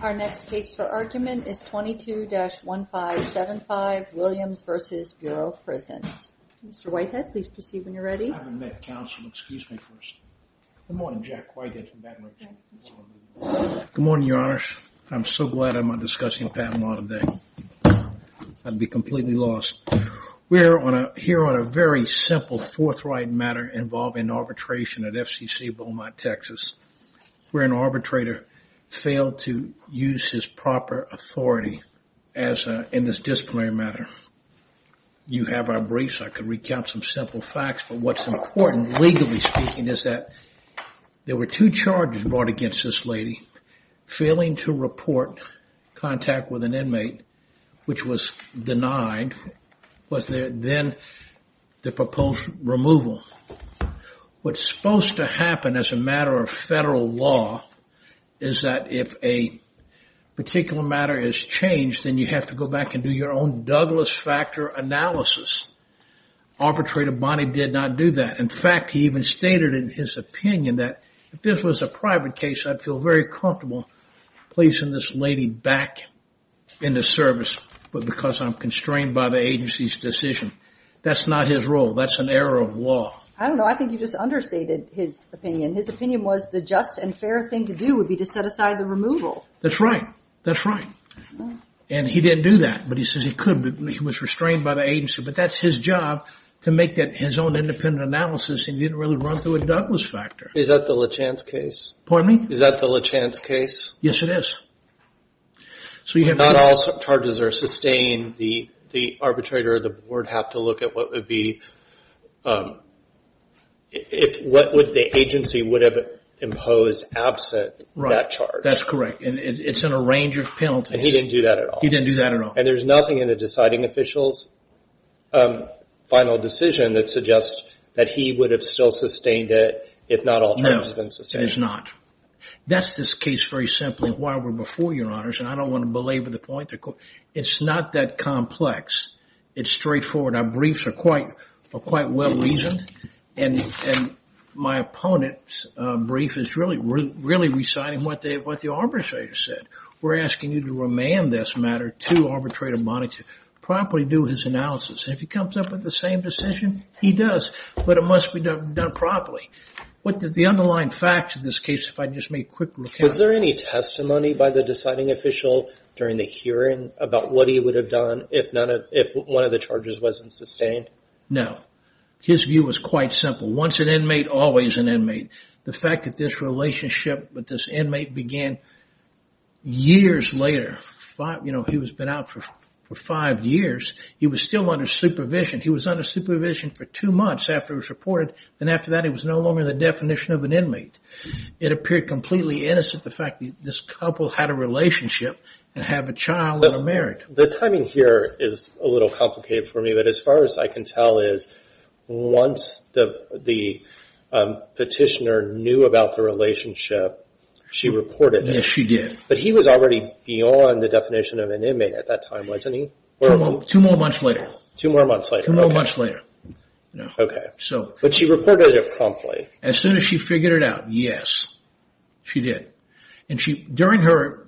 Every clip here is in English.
Our next case for argument is 22-1575 Williams v. Bureau of Prisons. Mr. Whitehead, please proceed when you're ready. I haven't met counsel. Excuse me first. Good morning, Jack Whitehead from Baton Rouge. Good morning, Your Honors. I'm so glad I'm not discussing Patent Law today. I'd be completely lost. We're here on a very simple forthright matter involving arbitration at FCC Beaumont, Texas, where an arbitrator failed to use his proper authority in this disciplinary matter. You have our briefs. I could recount some simple facts, but what's important, legally speaking, is that there were two charges brought against this lady. Failing to report contact with an inmate, which was denied, was then the proposed removal. What's supposed to happen as a matter of federal law is that if a particular matter is changed, then you have to go back and do your own Douglas factor analysis. Arbitrator Bonney did not do that. In fact, he even stated in his opinion that if this was a private case, I'd feel very comfortable placing this lady back in the service, but because I'm constrained by the agency's decision. That's not his role. That's an error of law. I don't know. I think you just understated his opinion. His opinion was the just and fair thing to do would be to set aside the removal. That's right. And he didn't do that, but he says he could. He was restrained by the agency, but that's his job to make his own independent analysis, and he didn't really run through a Douglas factor. Is that the LeChance case? Pardon me? Is that the LeChance case? Yes, it is. Not all charges are sustained. The arbitrator or the board have to look at what would be what the agency would have imposed absent that charge. That's correct, and it's in a range of penalties. And he didn't do that at all. He didn't do that at all. And there's nothing in the deciding official's final decision that suggests that he would have still sustained it if not all charges had been sustained. It is not. That's this case very simply why we're before your honors, and I don't want to belabor the point. It's not that complex. It's straightforward. Our briefs are quite well reasoned, and my opponent's brief is really, really reciting what the arbitrator said. We're asking you to remand this matter to arbitrator body to properly do his analysis. If he comes up with the same decision, he does, but it must be done properly. The underlying facts of this case, if I could just make a quick recount. Was there any testimony by the deciding official during the hearing about what he would have done if one of the charges wasn't sustained? No. His view was quite simple. Once an inmate, always an inmate. The fact that this relationship with this inmate began years later. He had been out for five years. He was still under supervision. He was under supervision for two months after it was reported, and after that he was no longer the definition of an inmate. It appeared completely innocent the fact that this couple had a relationship and have a child and a marriage. The timing here is a little complicated for me, but as far as I can tell is once the petitioner knew about the relationship, she reported it. Yes, she did. But he was already beyond the definition of an inmate at that time, wasn't he? Two more months later. Okay. But she reported it promptly. As soon as she figured it out, yes, she did. During her,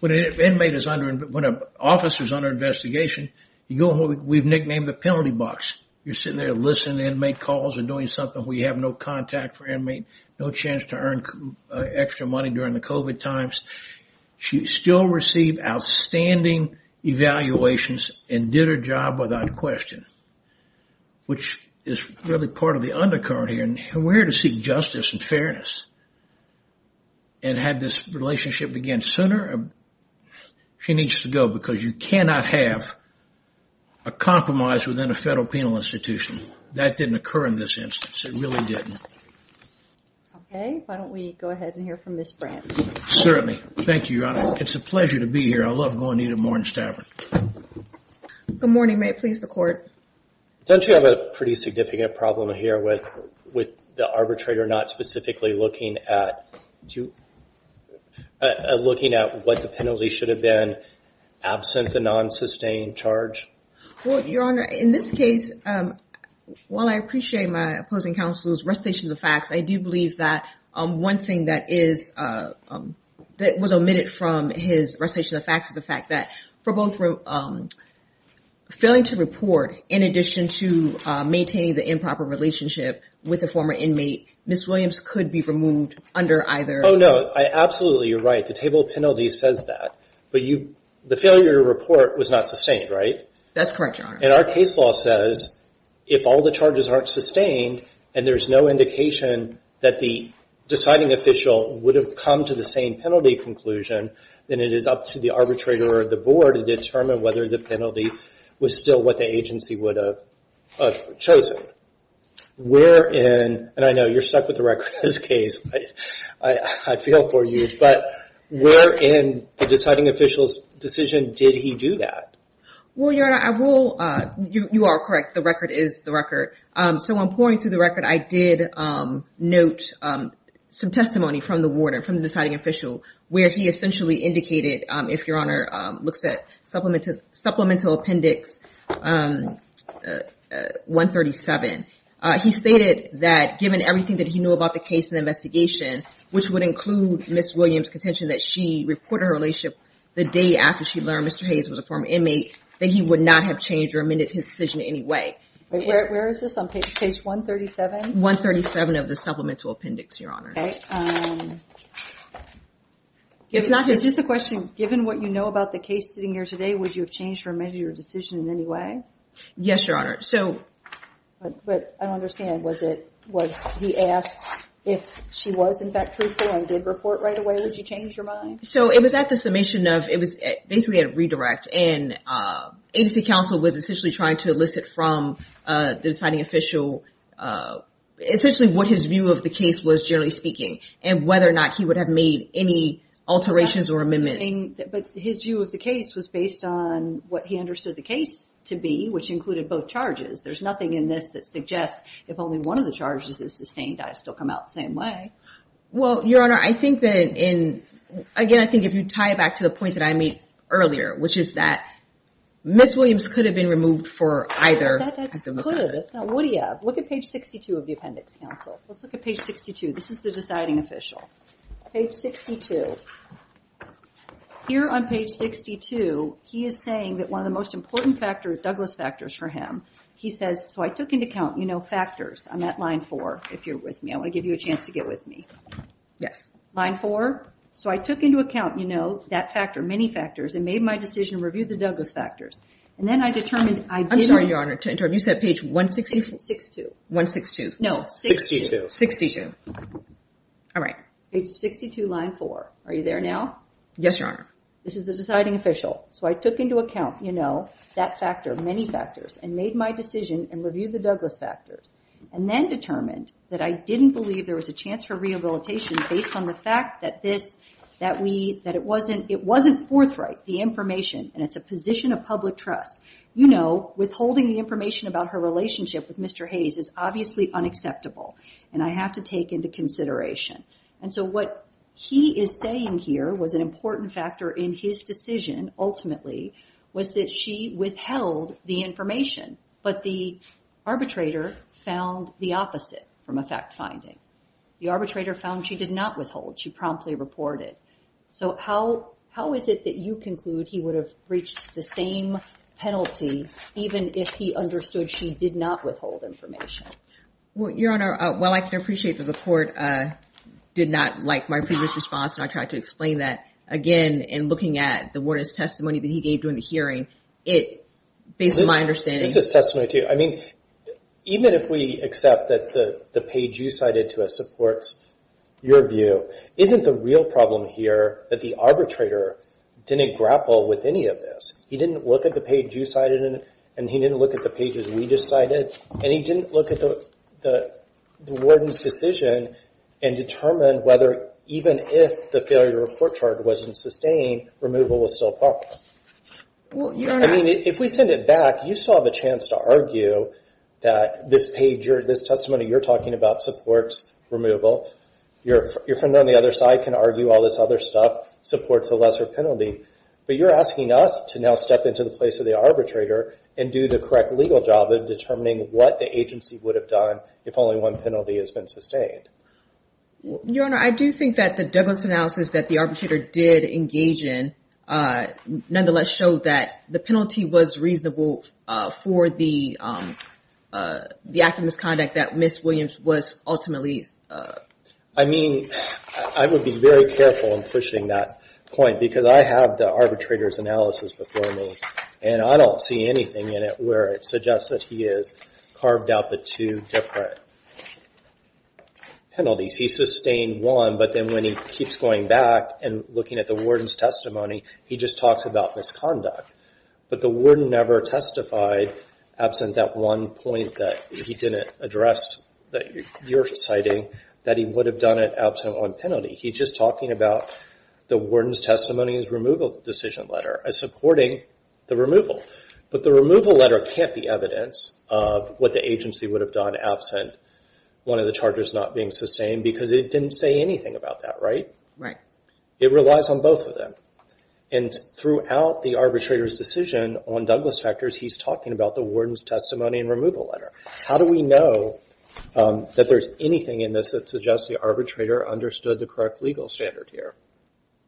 when an officer is under investigation, we've nicknamed the penalty box. You're sitting there listening to inmate calls and doing something where you have no contact for an inmate, no chance to earn extra money during the COVID times. She still received outstanding evaluations and did her job without question, which is really part of the undercurrent here and where to seek justice and fairness and have this relationship begin sooner. She needs to go because you cannot have a compromise within a federal penal institution. That didn't occur in this instance. It really didn't. Okay. Why don't we go ahead and hear from Ms. Brandt? Certainly. Thank you, Your Honor. It's a pleasure to be here. I love going to Edith Moran's tavern. Good morning. May it please the court? Don't you have a pretty significant problem here with the arbitrator not specifically looking at what the penalty should have been absent the non-sustained charge? Well, Your Honor, in this case, while I appreciate my opposing counsel's recitation of the facts, I do believe that one thing that was omitted from his recitation of the facts is the fact that for both failing to report in addition to maintaining the improper relationship with a former inmate, Ms. Williams could be removed under either. Oh, no. Absolutely, you're right. The table of penalties says that. But the failure to report was not sustained, right? That's correct, Your Honor. And our case law says if all the charges aren't sustained and there's no indication that the deciding official would have come to the same penalty conclusion, then it is up to the arbitrator or the board to determine whether the penalty was still what the agency would have chosen. Where in, and I know you're stuck with the record in this case, I feel for you, but where in the deciding official's decision did he do that? Well, Your Honor, you are correct. The record is the record. So I'm pouring through the record. I did note some testimony from the warden, from the deciding official, where he essentially indicated, if Your Honor looks at Supplemental Appendix 137, he stated that given everything that he knew about the case and investigation, which would include Ms. Williams' contention that she reported her relationship the day after she learned Mr. Hayes was a former inmate, that he would not have changed or amended his decision in any way. Where is this on page 137? 137 of the Supplemental Appendix, Your Honor. Is this a question, given what you know about the case sitting here today, would you have changed or amended your decision in any way? Yes, Your Honor. But I don't understand. Was he asked if she was in fact truthful and did report right away? Would you change your mind? So it was at the summation of, it was basically a redirect. And agency counsel was essentially trying to elicit from the deciding official essentially what his view of the case was, generally speaking, and whether or not he would have made any alterations or amendments. But his view of the case was based on what he understood the case to be, which included both charges. There's nothing in this that suggests if only one of the charges is sustained, I'd still come out the same way. Well, Your Honor, I think that in, again, I think if you tie it back to the point that I made earlier, which is that Ms. Williams could have been removed for either. That's good. That's not woody-up. Look at page 62 of the appendix, counsel. Let's look at page 62. This is the deciding official. Page 62. Here on page 62, he is saying that one of the most important factors, Douglas factors for him, he says, so I took into account, you know, factors on that line four, if you're with me. I want to give you a chance to get with me. Yes. Line four. So I took into account, you know, that factor, many factors, and made my decision to review the Douglas factors. And then I determined I didn't. I'm sorry, Your Honor. You said page 162. 162. No. 62. 62. Page 62, line four. Are you there now? Yes, Your Honor. This is the deciding official. So I took into account, you know, that factor, many factors, and made my decision and reviewed the Douglas factors. And then determined that I didn't believe there was a chance for rehabilitation based on the fact that it wasn't forthright, the information. And it's a position of public trust. You know, withholding the information about her relationship with Mr. Hayes is obviously unacceptable. And I have to take into consideration. And so what he is saying here was an important factor in his decision, ultimately, was that she withheld the information. But the arbitrator found the opposite from a fact finding. The arbitrator found she did not withhold. She promptly reported. So how is it that you conclude he would have reached the same penalty even if he understood she did not withhold information? Well, Your Honor, while I can appreciate that the court did not like my previous response and I tried to explain that, again, in looking at the warden's testimony that he gave during the hearing, it, based on my understanding. This is testimony too. I mean, even if we accept that the page you cited to us supports your view, isn't the real problem here that the arbitrator didn't grapple with any of this? He didn't look at the page you cited and he didn't look at the pages we just cited. And he didn't look at the warden's decision and determine whether, even if the failure to report charge wasn't sustained, removal was still a problem. I mean, if we send it back, you still have a chance to argue that this testimony you're talking about supports removal. Your friend on the other side can argue all this other stuff supports a lesser penalty. But you're asking us to now step into the place of the arbitrator and do the correct legal job of determining what the agency would have done if only one penalty has been sustained. Your Honor, I do think that the Douglas analysis that the arbitrator did engage in nonetheless showed that the penalty was reasonable for the act of misconduct that Ms. Williams was ultimately... I mean, I would be very careful in pushing that point because I have the arbitrator's analysis before me. And I don't see anything in it where it suggests that he has carved out the two different penalties. He sustained one, but then when he keeps going back and looking at the warden's testimony, he just talks about misconduct. But the warden never testified absent that one point that he didn't address that you're citing, that he would have done it absent one penalty. He's just talking about the warden's testimony in his removal decision letter as supporting the removal. But the removal letter can't be evidence of what the agency would have done absent one of the charges not being sustained because it didn't say anything about that, right? It relies on both of them. And throughout the arbitrator's decision on Douglas factors, he's talking about the warden's testimony and removal letter. How do we know that there's anything in this that suggests the arbitrator understood the correct legal standard here?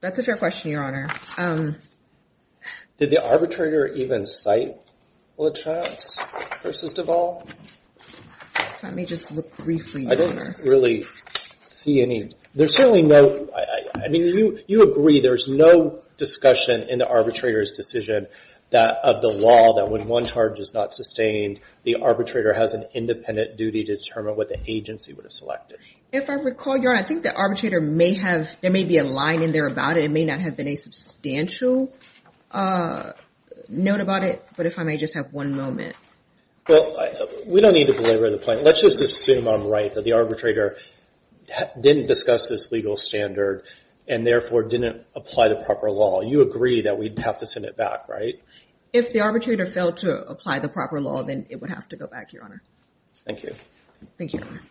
That's a fair question, Your Honor. Did the arbitrator even cite LaTrance versus Duvall? Let me just look briefly. I don't really see any. There's certainly no, I mean, you agree there's no discussion in the arbitrator's decision that of the law that when one charge is not sustained, the arbitrator has an independent duty to determine what the agency would have selected. If I recall, Your Honor, I think the arbitrator may have, there may be a line in there about it. It may not have been a substantial note about it. But if I may just have one moment. Well, we don't need to belabor the point. Let's just assume I'm right that the arbitrator didn't discuss this legal standard and therefore didn't apply the proper law. You agree that we'd have to send it back, right? If the arbitrator failed to apply the proper law, then it would have to go back, Your Honor. Thank you. Thank you, Your Honor.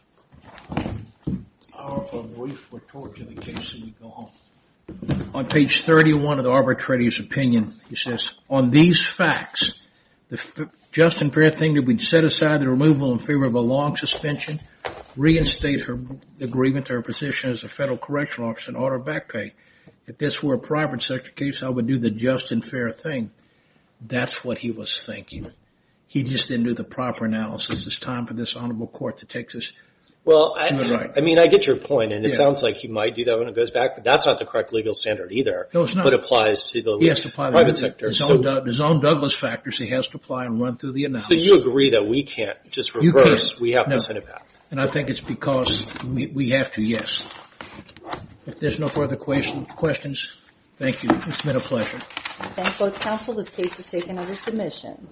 On page 31 of the arbitrator's opinion, he says, on these facts, the just and fair thing that we'd set aside the removal in favor of a long suspension, reinstate her agreement to her position as a federal correctional officer and order back pay. If this were a private sector case, I would do the just and fair thing. That's what he was thinking. He just didn't do the proper analysis. It's time for this honorable court to take this to the right. Well, I mean, I get your point, and it sounds like he might do that when it goes back. But that's not the correct legal standard either. No, it's not. It applies to the private sector. He has to apply his own Douglas factors. He has to apply and run through the analysis. So you agree that we can't just reverse. You can't. We have to send it back. And I think it's because we have to. Yes. If there's no further questions, thank you. It's been a pleasure. I thank both counsel. This case is taken under submission.